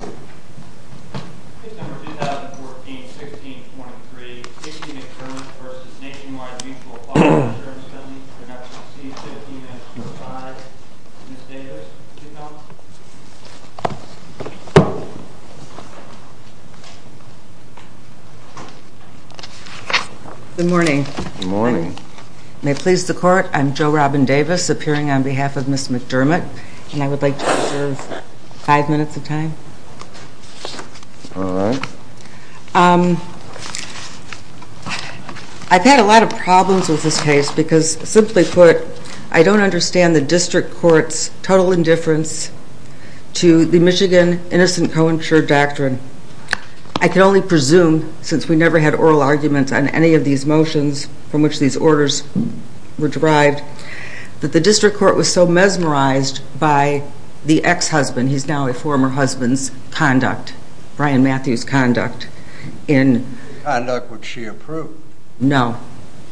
Case No. 2014-16-23, Kasey McDermott v. Nationwide Mutual Fire Insurance Funding, Production C, 15-25. Ms. Davis, would you come? Good morning. May it please the Court, I'm Jo Robin Davis, appearing on behalf of Ms. McDermott. And I would like to reserve five minutes of time. I've had a lot of problems with this case because, simply put, I don't understand the District Court's total indifference to the Michigan Innocent Coinsurer Doctrine. I can only presume, since we never had oral arguments on any of these motions from which these orders were derived, that the District Court was so mesmerized by the ex-husband, he's now a former husband's conduct, Brian Matthews' conduct, in... The conduct which she approved. No.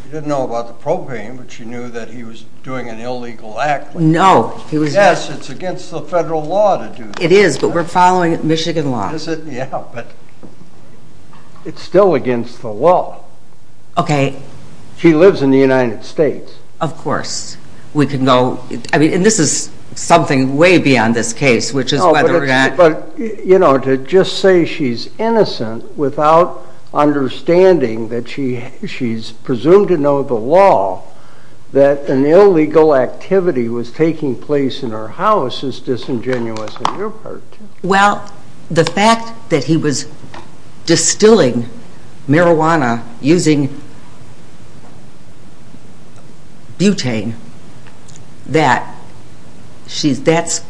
She didn't know about the propane, but she knew that he was doing an illegal act. No, he was not. Yes, it's against the federal law to do that. It is, but we're following Michigan law. Yeah, but it's still against the law. Okay. She lives in the United States. Of course. We could know... I mean, and this is something way beyond this case, which is whether or not... But, you know, to just say she's innocent without understanding that she's presumed to know the law, that an illegal activity was taking place in her house, is disingenuous on your part, too. Well, the fact that he was distilling marijuana using butane, that's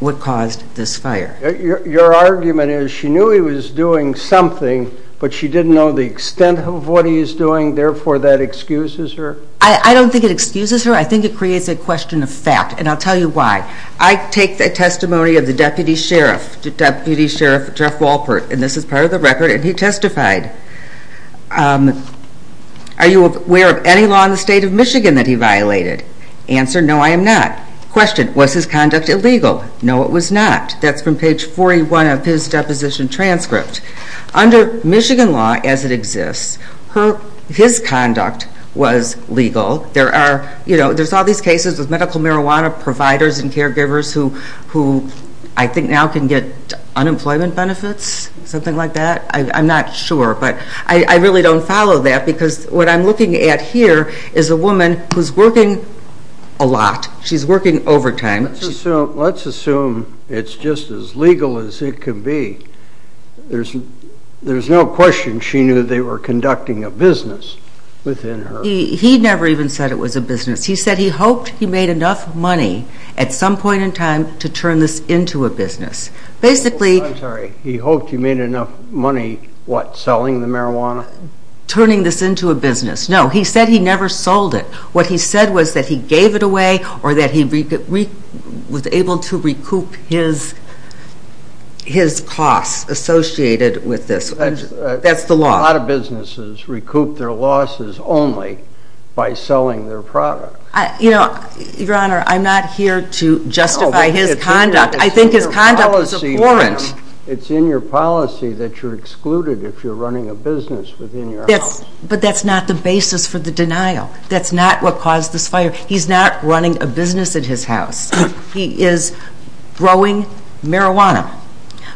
what caused this fire. Your argument is she knew he was doing something, but she didn't know the extent of what he was doing, therefore that excuses her? I don't think it excuses her. I think it creates a question of fact, and I'll tell you why. I take the testimony of the Deputy Sheriff, Deputy Sheriff Jeff Walpert, and this is part of the record, and he testified. Are you aware of any law in the state of Michigan that he violated? Answer, no, I am not. Question, was his conduct illegal? No, it was not. That's from page 41 of his deposition transcript. Under Michigan law as it exists, his conduct was legal. There are, you know, there's all these cases with medical marijuana providers and caregivers who I think now can get unemployment benefits, something like that. I'm not sure, but I really don't follow that because what I'm looking at here is a woman who's working a lot. She's working overtime. Let's assume it's just as legal as it can be. There's no question she knew they were conducting a business within her. He never even said it was a business. He said he hoped he made enough money at some point in time to turn this into a business. I'm sorry, he hoped he made enough money, what, selling the marijuana? Turning this into a business. No, he said he never sold it. What he said was that he gave it away or that he was able to recoup his costs associated with this. That's the law. A lot of businesses recoup their losses only by selling their product. You know, Your Honor, I'm not here to justify his conduct. I think his conduct was abhorrent. It's in your policy that you're excluded if you're running a business within your house. But that's not the basis for the denial. That's not what caused this fire. He's not running a business at his house. He is growing marijuana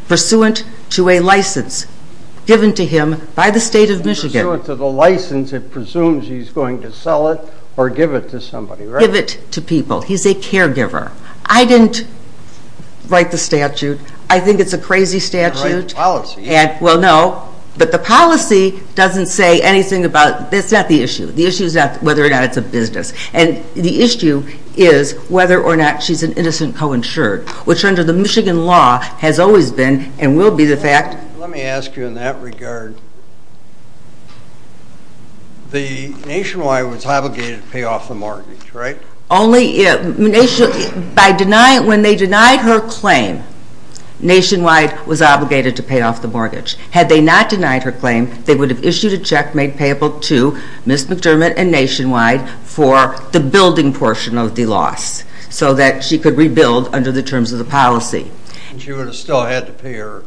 pursuant to a license given to him by the State of Michigan. Pursuant to the license, it presumes he's going to sell it or give it to somebody, right? Give it to people. He's a caregiver. I didn't write the statute. I think it's a crazy statute. You didn't write the policy. Well, no, but the policy doesn't say anything about it. That's not the issue. The issue is whether or not it's a business. And the issue is whether or not she's an innocent co-insured, which under the Michigan law has always been and will be the fact. Let me ask you in that regard, the Nationwide was obligated to pay off the mortgage, right? Only when they denied her claim, Nationwide was obligated to pay off the mortgage. Had they not denied her claim, they would have issued a check made payable to Ms. McDermott and Nationwide for the building portion of the loss so that she could rebuild under the terms of the policy. And she would have still had to pay her?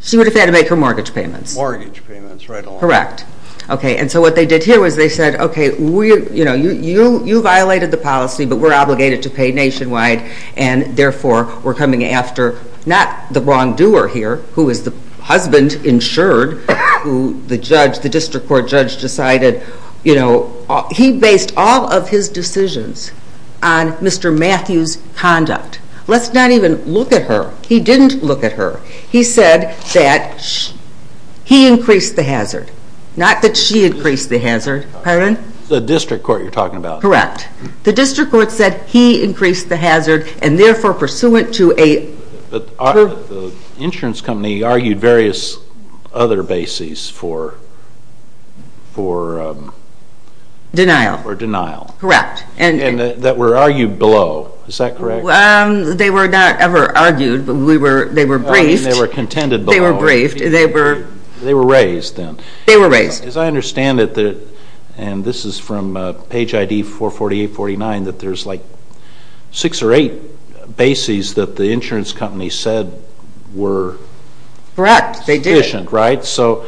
She would have had to make her mortgage payments. Mortgage payments, right along. Correct. Okay, and so what they did here was they said, okay, you violated the policy, but we're obligated to pay Nationwide, and therefore we're coming after not the wrongdoer here, who is the husband insured, who the district court judge decided, you know, he based all of his decisions on Mr. Matthews' conduct. Let's not even look at her. He didn't look at her. He said that he increased the hazard, not that she increased the hazard. Pardon? The district court you're talking about. Correct. The district court said he increased the hazard, and therefore pursuant to a The insurance company argued various other bases for Denial. For denial. Correct. And that were argued below. Is that correct? They were not ever argued, but they were briefed. They were contended below. They were briefed. They were They were raised then. They were raised. As I understand it, and this is from page ID 44849, that there's like six or eight bases that the insurance company said were Correct. Sufficient, right? So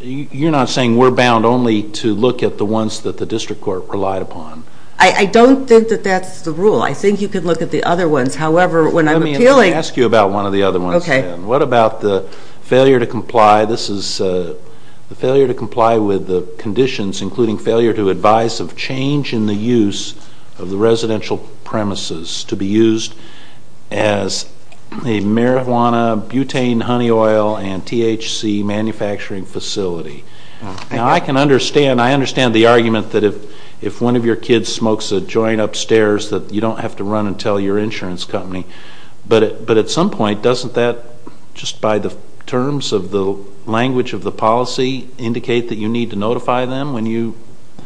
you're not saying we're bound only to look at the ones that the district court relied upon? I don't think that that's the rule. I think you can look at the other ones. However, when I'm appealing Let me ask you about one of the other ones. Okay. What about the failure to comply? This is the failure to comply with the conditions, including failure to advise of change in the use of the residential premises to be Used as a marijuana, butane, honey oil, and THC manufacturing facility. Now, I can understand. I understand the argument that if one of your kids smokes a joint upstairs that you don't have to run and tell your insurance company. But at some point, doesn't that, just by the terms of the language of the policy, indicate that you need to notify them when you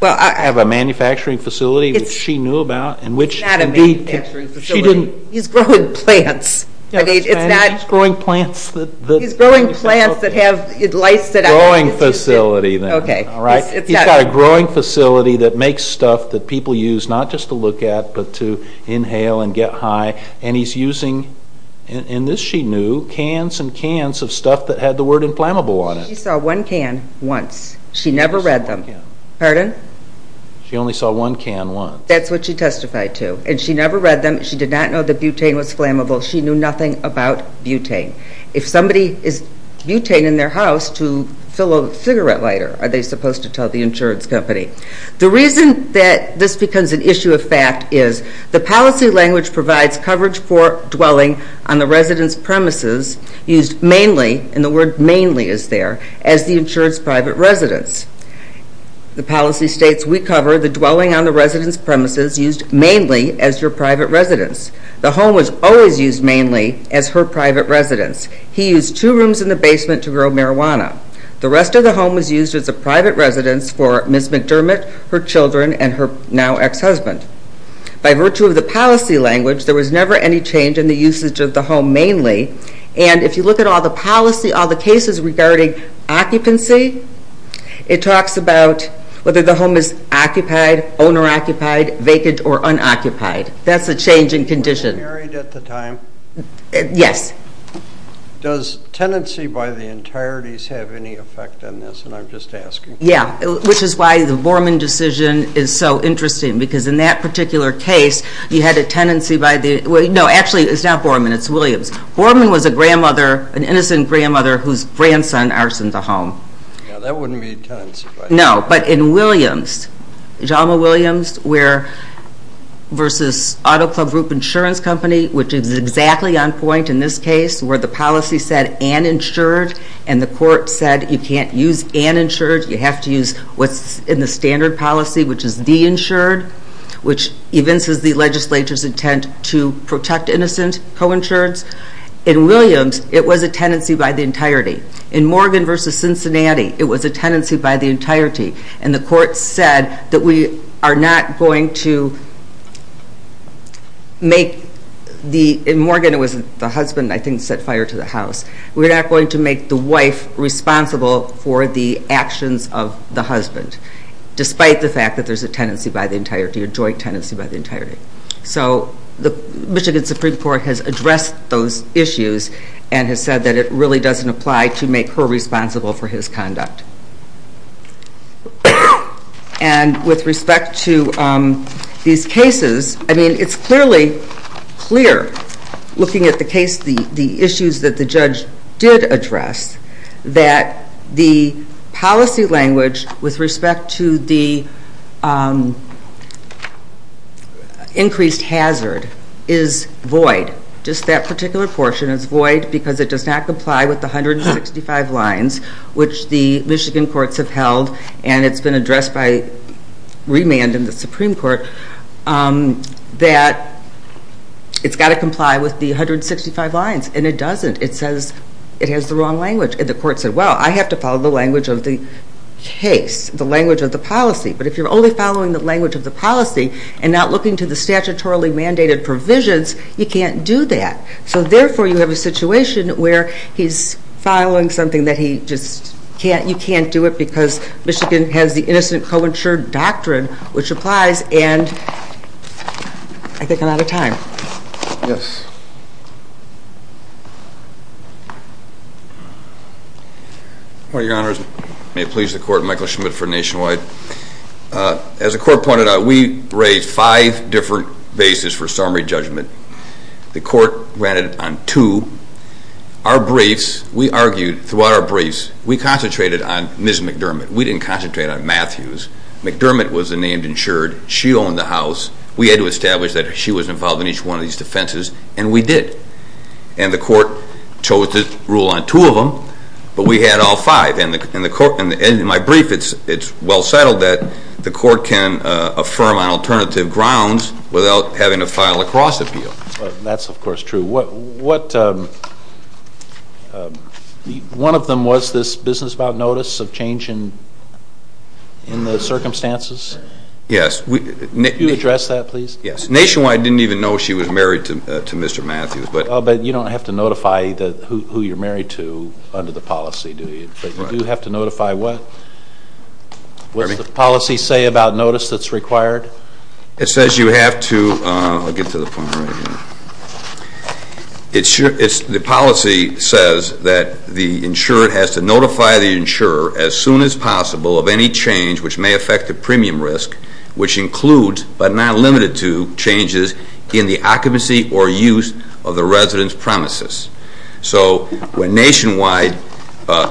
have a Manufacturing facility which she knew about? It's not a manufacturing facility. He's growing plants. It's not She's growing plants that He's growing plants that have Growing facility then. Okay. All right. He's got a growing facility that makes stuff that people use, not just to look at, but to inhale and get high. And he's using, and this she knew, cans and cans of stuff that had the word inflammable on it. She saw one can once. She never read them. Pardon? She only saw one can once. That's what she testified to. And she never read them. She did not know that butane was flammable. She knew nothing about butane. If somebody is butane in their house to fill a cigarette lighter, are they supposed to tell the insurance company? The reason that this becomes an issue of fact is the policy language provides coverage for dwelling on the resident's premises used mainly, And the word mainly is there, as the insured's private residence. The policy states, we cover the dwelling on the resident's premises used mainly as your private residence. The home was always used mainly as her private residence. He used two rooms in the basement to grow marijuana. The rest of the home was used as a private residence for Ms. McDermott, her children, and her now ex-husband. By virtue of the policy language, there was never any change in the usage of the home mainly. And if you look at all the policy, all the cases regarding occupancy, it talks about whether the home is occupied, owner-occupied, vacant, or unoccupied. That's the change in condition. Were they married at the time? Yes. Does tenancy by the entireties have any effect on this? And I'm just asking. Yeah, which is why the Borman decision is so interesting. Because in that particular case, you had a tenancy by the... No, actually, it's not Borman, it's Williams. Borman was a grandmother, an innocent grandmother, whose grandson arsoned the home. Yeah, that wouldn't be tenancy by the... The Auto Club Group Insurance Company, which is exactly on point in this case, where the policy said uninsured, and the court said you can't use uninsured, you have to use what's in the standard policy, which is de-insured, which evinces the legislature's intent to protect innocent co-insureds. In Williams, it was a tenancy by the entirety. In Morgan v. Cincinnati, it was a tenancy by the entirety. And the court said that we are not going to make the... In Morgan, it was the husband, I think, set fire to the house. We're not going to make the wife responsible for the actions of the husband, despite the fact that there's a tenancy by the entirety, a joint tenancy by the entirety. So the Michigan Supreme Court has addressed those issues and has said that it really doesn't apply to make her responsible for his conduct. And with respect to these cases, I mean, it's clearly clear, looking at the case, the issues that the judge did address, that the policy language with respect to the increased hazard is void. Just that particular portion is void because it does not comply with the 165 lines which the Michigan courts have held, and it's been addressed by remand in the Supreme Court, that it's got to comply with the 165 lines, and it doesn't. It says it has the wrong language. And the court said, well, I have to follow the language of the case, the language of the policy. But if you're only following the language of the policy and not looking to the statutorily mandated provisions, you can't do that. So therefore, you have a situation where he's following something that he just can't, you can't do it because Michigan has the innocent co-insured doctrine, which applies, and I think I'm out of time. Yes. Your Honors, may it please the Court, Michael Schmidt for Nationwide. As the Court pointed out, we raised five different bases for summary judgment. The Court ran it on two. Our briefs, we argued throughout our briefs, we concentrated on Ms. McDermott. We didn't concentrate on Matthews. McDermott was the named insured. She owned the house. We had to establish that she was involved in each one of these defenses, and we did. And the Court chose to rule on two of them, but we had all five. In my brief, it's well settled that the Court can affirm on alternative grounds without having to file a cross-appeal. That's, of course, true. One of them was this business about notice of change in the circumstances? Yes. Can you address that, please? Yes. Nationwide didn't even know she was married to Mr. Matthews. But you don't have to notify who you're married to under the policy, do you? You do have to notify what? What does the policy say about notice that's required? It says you have to, I'll get to the point right here. The policy says that the insured has to notify the insurer as soon as possible of any change which may affect the premium risk, which includes, but not limited to, changes in the occupancy or use of the resident's premises. So when Nationwide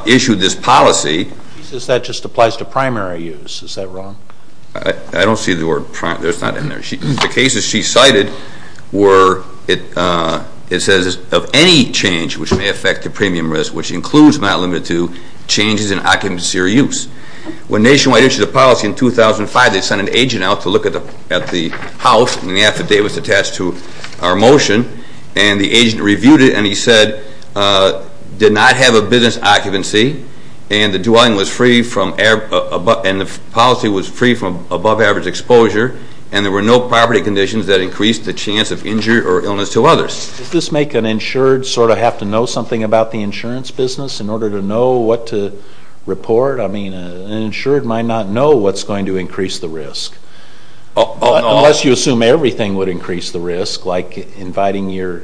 issued this policy... She says that just applies to primary use. Is that wrong? I don't see the word primary. It's not in there. The cases she cited were, it says, of any change which may affect the premium risk, which includes, not limited to, changes in occupancy or use. When Nationwide issued the policy in 2005, they sent an agent out to look at the house, and the affidavit was attached to our motion. And the agent reviewed it, and he said, did not have a business occupancy, and the dwelling was free from, and the policy was free from above-average exposure, and there were no property conditions that increased the chance of injury or illness to others. Does this make an insured sort of have to know something about the insurance business in order to know what to report? I mean, an insured might not know what's going to increase the risk. Unless you assume everything would increase the risk, like inviting your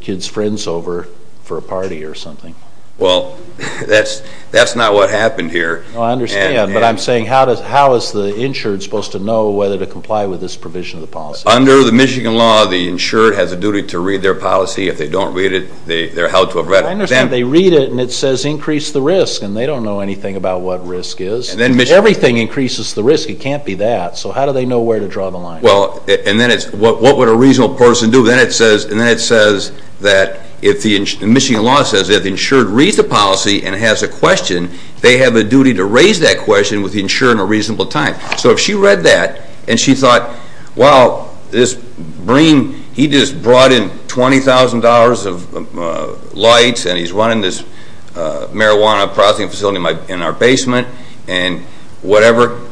kids' friends over for a party or something. Well, that's not what happened here. I understand, but I'm saying how is the insured supposed to know whether to comply with this provision of the policy? Under the Michigan law, the insured has a duty to read their policy. If they don't read it, they're held to a record. I understand. They read it, and it says increase the risk, and they don't know anything about what risk is. If everything increases the risk, it can't be that. So how do they know where to draw the line? Well, and then it's what would a reasonable person do? Then it says that if the Michigan law says if the insured reads the policy and has a question, they have a duty to raise that question with the insured in a reasonable time. So if she read that and she thought, well, this Breen, he just brought in $20,000 of lights, and he's running this marijuana processing facility in our basement and whatever,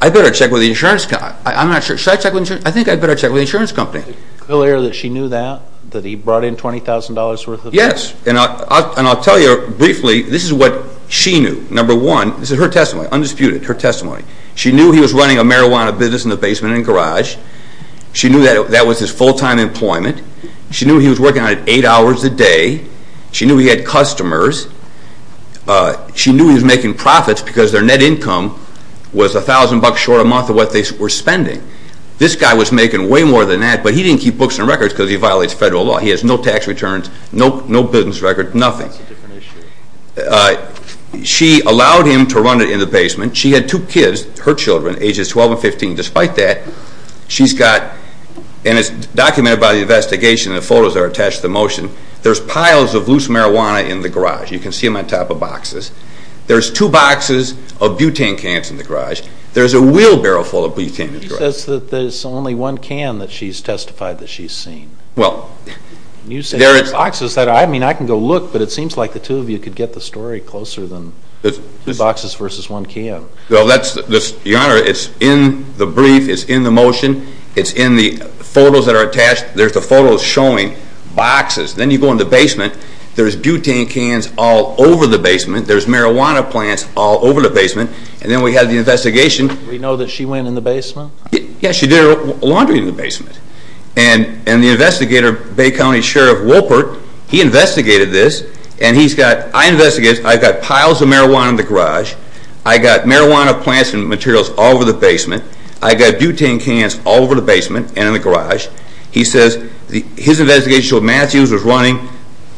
I'd better check with the insurance company. I'm not sure. Should I check with the insurance company? I think I'd better check with the insurance company. Is it clear that she knew that, that he brought in $20,000 worth of lights? Yes, and I'll tell you briefly, this is what she knew. Number one, this is her testimony, undisputed, her testimony. She knew he was running a marijuana business in the basement and garage. She knew that that was his full-time employment. She knew he was working on it eight hours a day. She knew he had customers. She knew he was making profits because their net income was $1,000 short a month of what they were spending. This guy was making way more than that, but he didn't keep books and records because he violates federal law. He has no tax returns, no business records, nothing. That's a different issue. She allowed him to run it in the basement. She had two kids, her children, ages 12 and 15. Despite that, she's got, and it's documented by the investigation and the photos that are attached to the motion, there's piles of loose marijuana in the garage. You can see them on top of boxes. There's two boxes of butane cans in the garage. There's a wheelbarrow full of butane in the garage. She says that there's only one can that she's testified that she's seen. You say there's boxes. I can go look, but it seems like the two of you could get the story closer than two boxes versus one can. Your Honor, it's in the brief. It's in the motion. It's in the photos that are attached. There's the photos showing boxes. Then you go in the basement. There's butane cans all over the basement. There's marijuana plants all over the basement. Then we have the investigation. We know that she went in the basement? Yes, she did her laundry in the basement. The investigator, Bay County Sheriff Wolpert, he investigated this, and he's got piles of marijuana in the garage. I've got marijuana plants and materials all over the basement. I've got butane cans all over the basement and in the garage. He says his investigation showed Matthews was running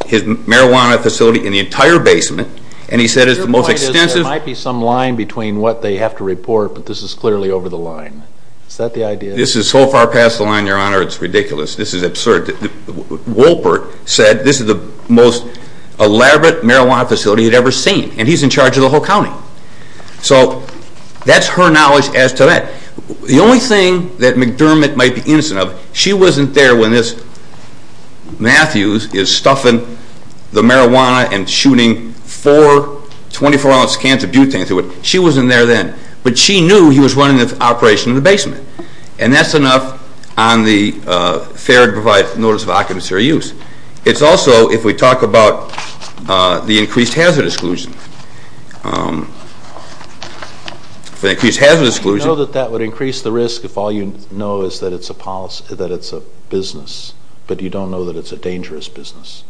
his marijuana facility in the entire basement, and he said it's the most extensive. Your point is there might be some line between what they have to report, but this is clearly over the line. Is that the idea? This is so far past the line, Your Honor, it's ridiculous. This is absurd. Wolpert said this is the most elaborate marijuana facility he'd ever seen, and he's in charge of the whole county. So that's her knowledge as to that. The only thing that McDermott might be innocent of, she wasn't there when this Matthews is stuffing the marijuana and shooting four 24-ounce cans of butane through it. She wasn't there then, but she knew he was running the operation in the basement, and that's enough on the fair to provide notice of occupancy or use. It's also, if we talk about the increased hazard exclusion, Do you know that that would increase the risk if all you know is that it's a business but you don't know that it's a dangerous business?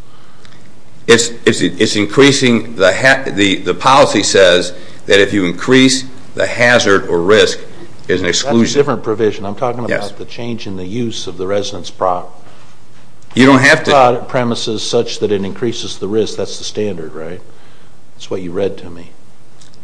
It's increasing. The policy says that if you increase the hazard or risk, there's an exclusion. That's a different provision. I'm talking about the change in the use of the residence prop. You don't have to. It's not on premises such that it increases the risk. That's the standard, right? That's what you read to me.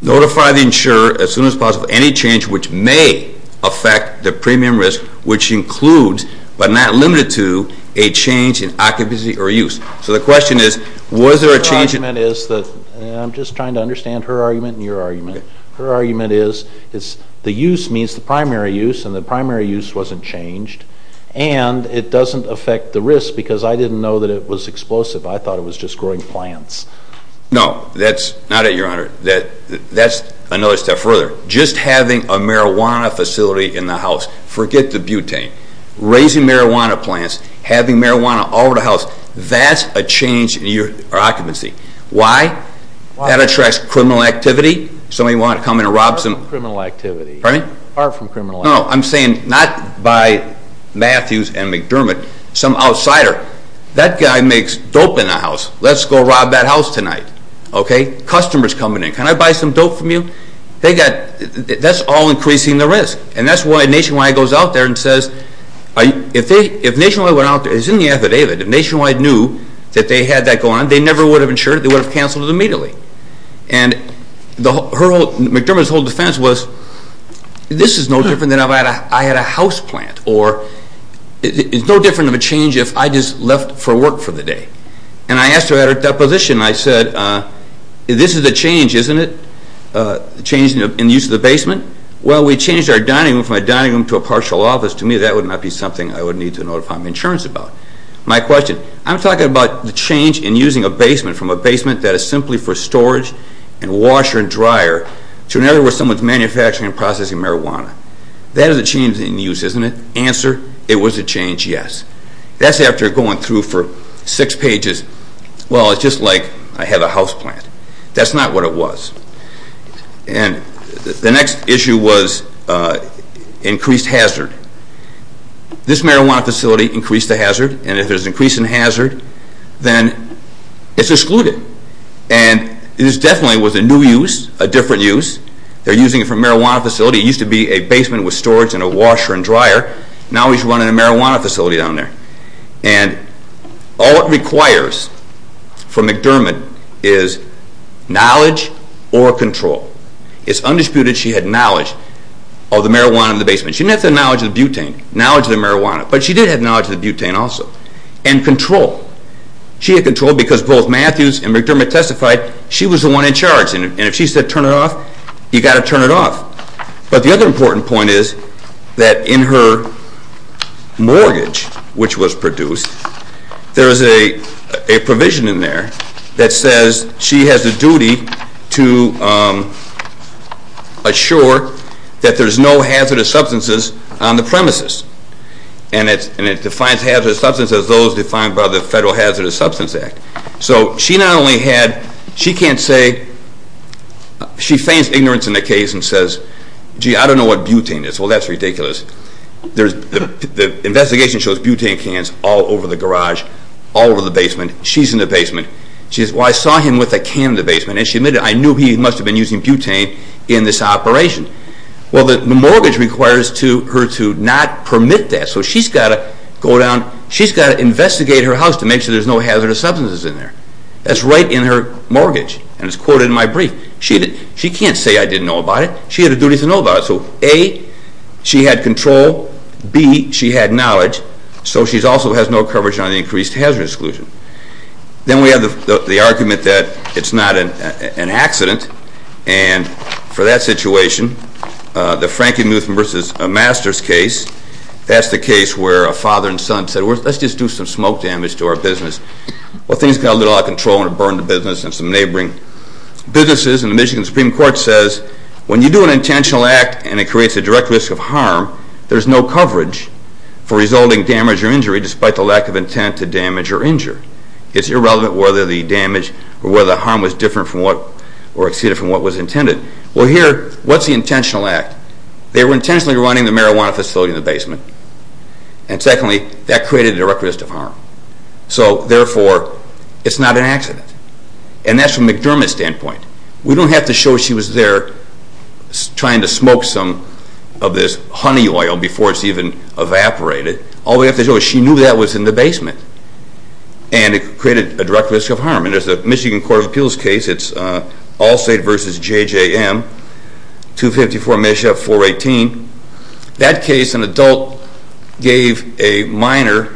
Notify the insurer as soon as possible any change which may affect the premium risk, which includes but not limited to a change in occupancy or use. So the question is, was there a change? I'm just trying to understand her argument and your argument. Her argument is the use means the primary use, and the primary use wasn't changed, and it doesn't affect the risk because I didn't know that it was explosive. I thought it was just growing plants. No, that's not it, Your Honor. That's another step further. Just having a marijuana facility in the house. Forget the butane. Raising marijuana plants, having marijuana all over the house, that's a change in your occupancy. Why? That attracts criminal activity. Somebody wanted to come in and rob some. Far from criminal activity. Pardon me? Far from criminal activity. No, I'm saying not by Matthews and McDermott, some outsider. That guy makes dope in the house. Let's go rob that house tonight. Okay? Customers coming in. Can I buy some dope from you? That's all increasing the risk. And that's why Nationwide goes out there and says, if Nationwide went out there, it's in the affidavit, if Nationwide knew that they had that going on, they never would have insured it. They would have canceled it immediately. And McDermott's whole defense was, this is no different than if I had a house plant, or it's no different of a change if I just left for work for the day. And I asked her at her deposition, I said, this is a change, isn't it? A change in the use of the basement? Well, we changed our dining room from a dining room to a partial office. To me, that would not be something I would need to notify my insurance about. My question, I'm talking about the change in using a basement from a basement that is simply for storage and washer and dryer to another where someone's manufacturing and processing marijuana. That is a change in use, isn't it? Answer, it was a change, yes. That's after going through for six pages. Well, it's just like I had a house plant. That's not what it was. And the next issue was increased hazard. This marijuana facility increased the hazard, and if there's an increase in hazard, then it's excluded. And it definitely was a new use, a different use. They're using it for a marijuana facility. It used to be a basement with storage and a washer and dryer. Now we should run it in a marijuana facility down there. And all it requires for McDermott is knowledge or control. It's undisputed she had knowledge of the marijuana in the basement. She didn't have the knowledge of the butane, knowledge of the marijuana, but she did have knowledge of the butane also. And control. She had control because both Matthews and McDermott testified she was the one in charge, and if she said turn it off, you've got to turn it off. But the other important point is that in her mortgage, which was produced, there is a provision in there that says she has a duty to assure that there's no hazardous substances on the premises. And it defines hazardous substances as those defined by the Federal Hazardous Substances Act. So she not only had, she can't say, she feigns ignorance in the case and says, gee, I don't know what butane is. Well, that's ridiculous. The investigation shows butane cans all over the garage, all over the basement. She's in the basement. She says, well, I saw him with a can in the basement, and she admitted, I knew he must have been using butane in this operation. Well, the mortgage requires her to not permit that. So she's got to go down, she's got to investigate her house to make sure there's no hazardous substances in there. That's right in her mortgage, and it's quoted in my brief. She can't say I didn't know about it. She had a duty to know about it. So A, she had control. B, she had knowledge. So she also has no coverage on the increased hazardous exclusion. Then we have the argument that it's not an accident, and for that situation, the Frankie Mutham versus Masters case, that's the case where a father and son said, let's just do some smoke damage to our business. Well, things got a little out of control, and it burned the business and some neighboring businesses, and the Michigan Supreme Court says when you do an intentional act and it creates a direct risk of harm, there's no coverage for resulting damage or injury despite the lack of intent to damage or injure. It's irrelevant whether the damage or whether the harm was different from what or exceeded from what was intended. Well, here, what's the intentional act? They were intentionally running the marijuana facility in the basement, and secondly, that created a direct risk of harm. So therefore, it's not an accident, and that's from McDermott's standpoint. We don't have to show she was there trying to smoke some of this honey oil before it's even evaporated. All we have to show is she knew that was in the basement, and it created a direct risk of harm. And there's a Michigan Court of Appeals case. It's Allstate v. JJM, 254 Misha, 418. That case, an adult gave a minor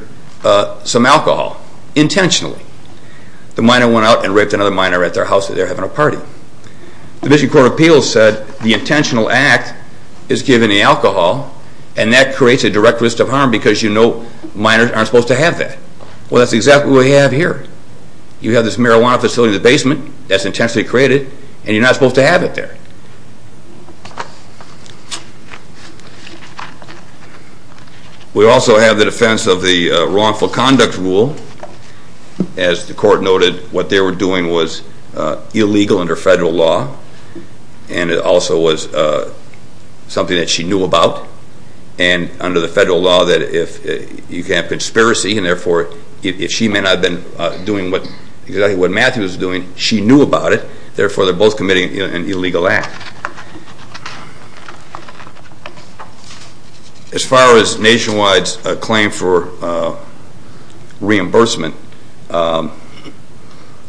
some alcohol intentionally. The minor went out and raped another minor at their house that they were having a party. The Michigan Court of Appeals said the intentional act is giving the alcohol, and that creates a direct risk of harm because you know minors aren't supposed to have that. Well, that's exactly what we have here. You have this marijuana facility in the basement that's intentionally created, and you're not supposed to have it there. We also have the defense of the wrongful conduct rule. As the court noted, what they were doing was illegal under federal law, and it also was something that she knew about. And under the federal law, you can have conspiracy, and therefore if she may not have been doing exactly what Matthew was doing, she knew about it. Therefore, they're both committing an illegal act. As far as Nationwide's claim for reimbursement,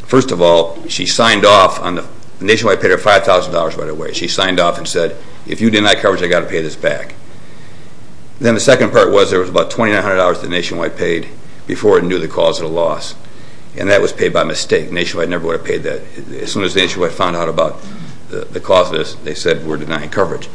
first of all, Nationwide paid her $5,000 right away. She signed off and said, if you deny coverage, I've got to pay this back. Then the second part was there was about $2,900 that Nationwide paid before it knew the cause of the loss, and that was paid by mistake. Nationwide never would have paid that. As soon as Nationwide found out about the cause of this, they said, we're denying coverage.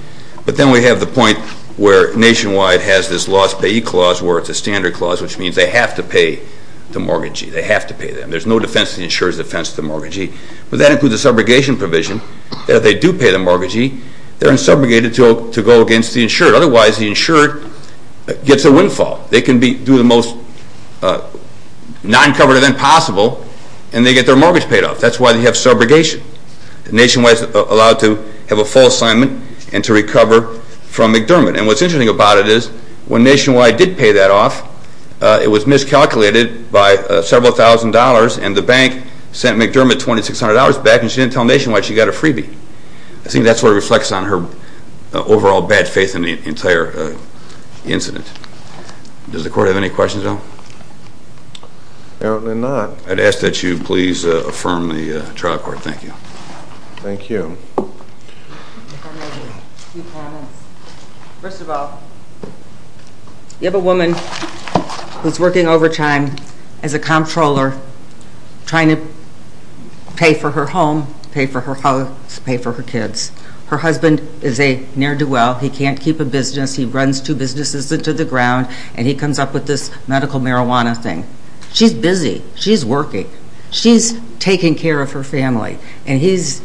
But then we have the point where Nationwide has this loss payee clause where it's a standard clause, which means they have to pay the mortgagee. They have to pay them. There's no defense of the insurer's defense of the mortgagee. But that includes the subrogation provision. If they do pay the mortgagee, they're subrogated to go against the insured. Otherwise, the insured gets a windfall. They can do the most non-covered event possible, and they get their mortgage paid off. That's why they have subrogation. Nationwide's allowed to have a full assignment and to recover from McDermott. And what's interesting about it is when Nationwide did pay that off, it was miscalculated by several thousand dollars, and the bank sent McDermott $2,600 back, and she didn't tell Nationwide she got a freebie. I think that sort of reflects on her overall bad faith in the entire incident. Does the court have any questions at all? Apparently not. I'd ask that you please affirm the trial court. Thank you. Thank you. First of all, you have a woman who's working overtime as a comptroller trying to pay for her home, pay for her house, pay for her kids. Her husband is a ne'er-do-well. He can't keep a business. He runs two businesses into the ground, and he comes up with this medical marijuana thing. She's busy. She's working. She's taking care of her family. And he's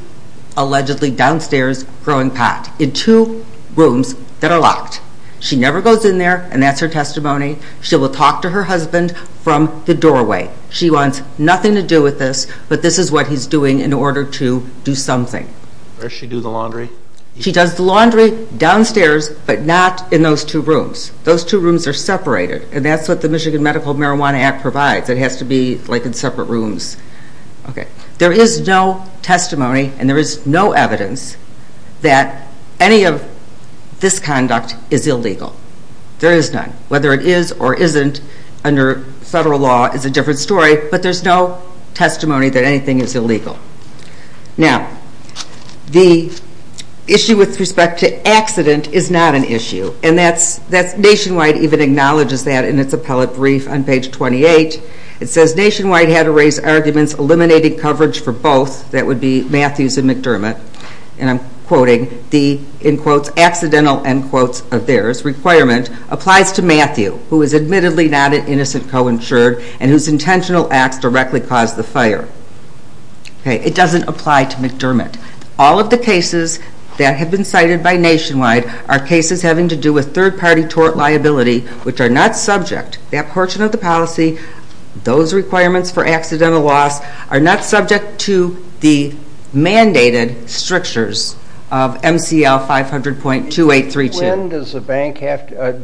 allegedly downstairs growing pot in two rooms that are locked. She never goes in there, and that's her testimony. She will talk to her husband from the doorway. She wants nothing to do with this, but this is what he's doing in order to do something. Does she do the laundry? She does the laundry downstairs but not in those two rooms. Those two rooms are separated, and that's what the Michigan Medical Marijuana Act provides. It has to be like in separate rooms. There is no testimony and there is no evidence that any of this conduct is illegal. There is none. Whether it is or isn't under federal law is a different story, but there's no testimony that anything is illegal. Now, the issue with respect to accident is not an issue, and Nationwide even acknowledges that in its appellate brief on page 28. It says Nationwide had to raise arguments eliminating coverage for both, that would be Matthews and McDermott. And I'm quoting, the, in quotes, accidental, end quotes of theirs, requirement applies to Matthew, who is admittedly not an innocent co-insured and whose intentional acts directly caused the fire. It doesn't apply to McDermott. All of the cases that have been cited by Nationwide are cases having to do with third-party tort liability, which are not subject, that portion of the policy, those requirements for accidental loss, are not subject to the mandated strictures of MCL 500.2832. When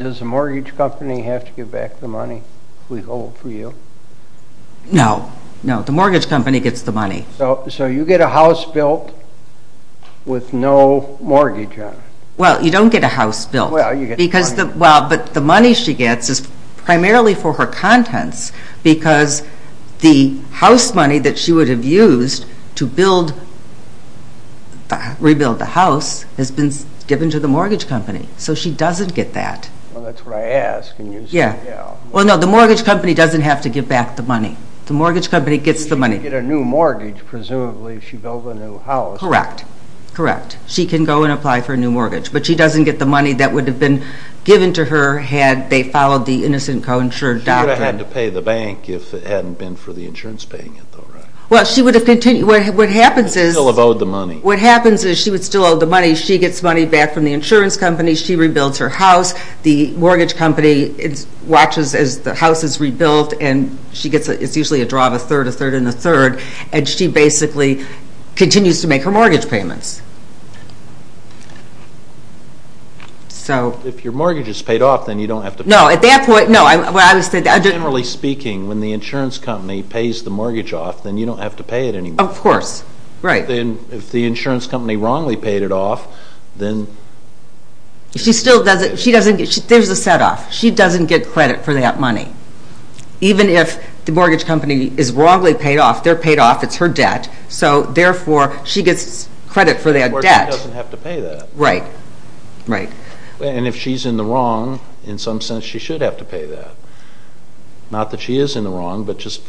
does a mortgage company have to give back the money we hold for you? No, no, the mortgage company gets the money. So you get a house built with no mortgage on it? Well, you don't get a house built. Because the, well, but the money she gets is primarily for her contents because the house money that she would have used to build, rebuild the house, has been given to the mortgage company, so she doesn't get that. Well, that's what I asked, and you said, yeah. Well, no, the mortgage company doesn't have to give back the money. The mortgage company gets the money. She can get a new mortgage, presumably, if she builds a new house. Correct, correct. She can go and apply for a new mortgage, but she doesn't get the money that would have been given to her had they followed the innocent co-insured doctrine. She would have had to pay the bank if it hadn't been for the insurance paying it, though, right? Well, she would have continued. She would still have owed the money. What happens is she would still owe the money. She gets money back from the insurance company. She rebuilds her house. The mortgage company watches as the house is rebuilt, and it's usually a draw of a third, a third, and a third, and she basically continues to make her mortgage payments. If your mortgage is paid off, then you don't have to pay it. No, at that point, no. Generally speaking, when the insurance company pays the mortgage off, then you don't have to pay it anymore. Of course, right. Then if the insurance company wrongly paid it off, then... She doesn't get credit for that money. Even if the mortgage company is wrongly paid off, they're paid off. It's her debt. So, therefore, she gets credit for that debt. Or she doesn't have to pay that. Right, right. And if she's in the wrong, in some sense, she should have to pay that. Not that she is in the wrong, but just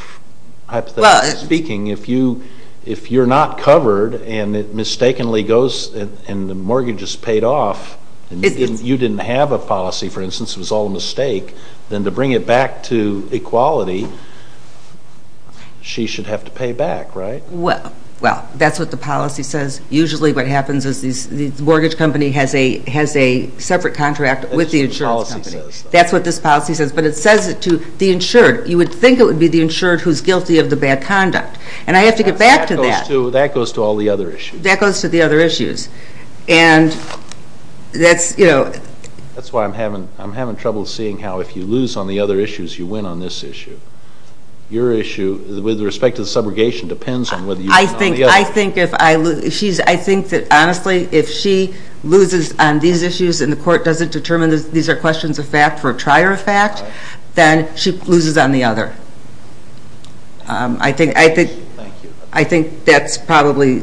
hypothetically speaking, if you're not covered and it mistakenly goes and the mortgage is paid off, and you didn't have a policy, for instance, it was all a mistake, then to bring it back to equality, she should have to pay back, right? Well, that's what the policy says. Usually what happens is the mortgage company has a separate contract with the insurance company. That's what the policy says. That's what this policy says. But it says it to the insured. You would think it would be the insured who's guilty of the bad conduct. And I have to get back to that. That goes to all the other issues. That goes to the other issues. And that's... That's why I'm having trouble seeing how if you lose on the other issues, you win on this issue. Your issue with respect to the subrogation depends on whether you win on the other. I think that, honestly, if she loses on these issues and the court doesn't determine these are questions of fact for a trier of fact, then she loses on the other. Thank you. I think that's probably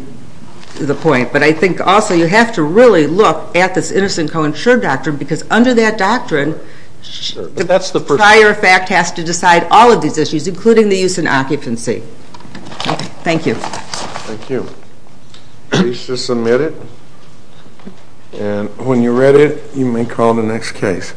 the point. But I think also you have to really look at this innocent co-insured doctrine because under that doctrine, the prior fact has to decide all of these issues, including the use in occupancy. Thank you. Thank you. Please just submit it. And when you've read it, you may call the next case.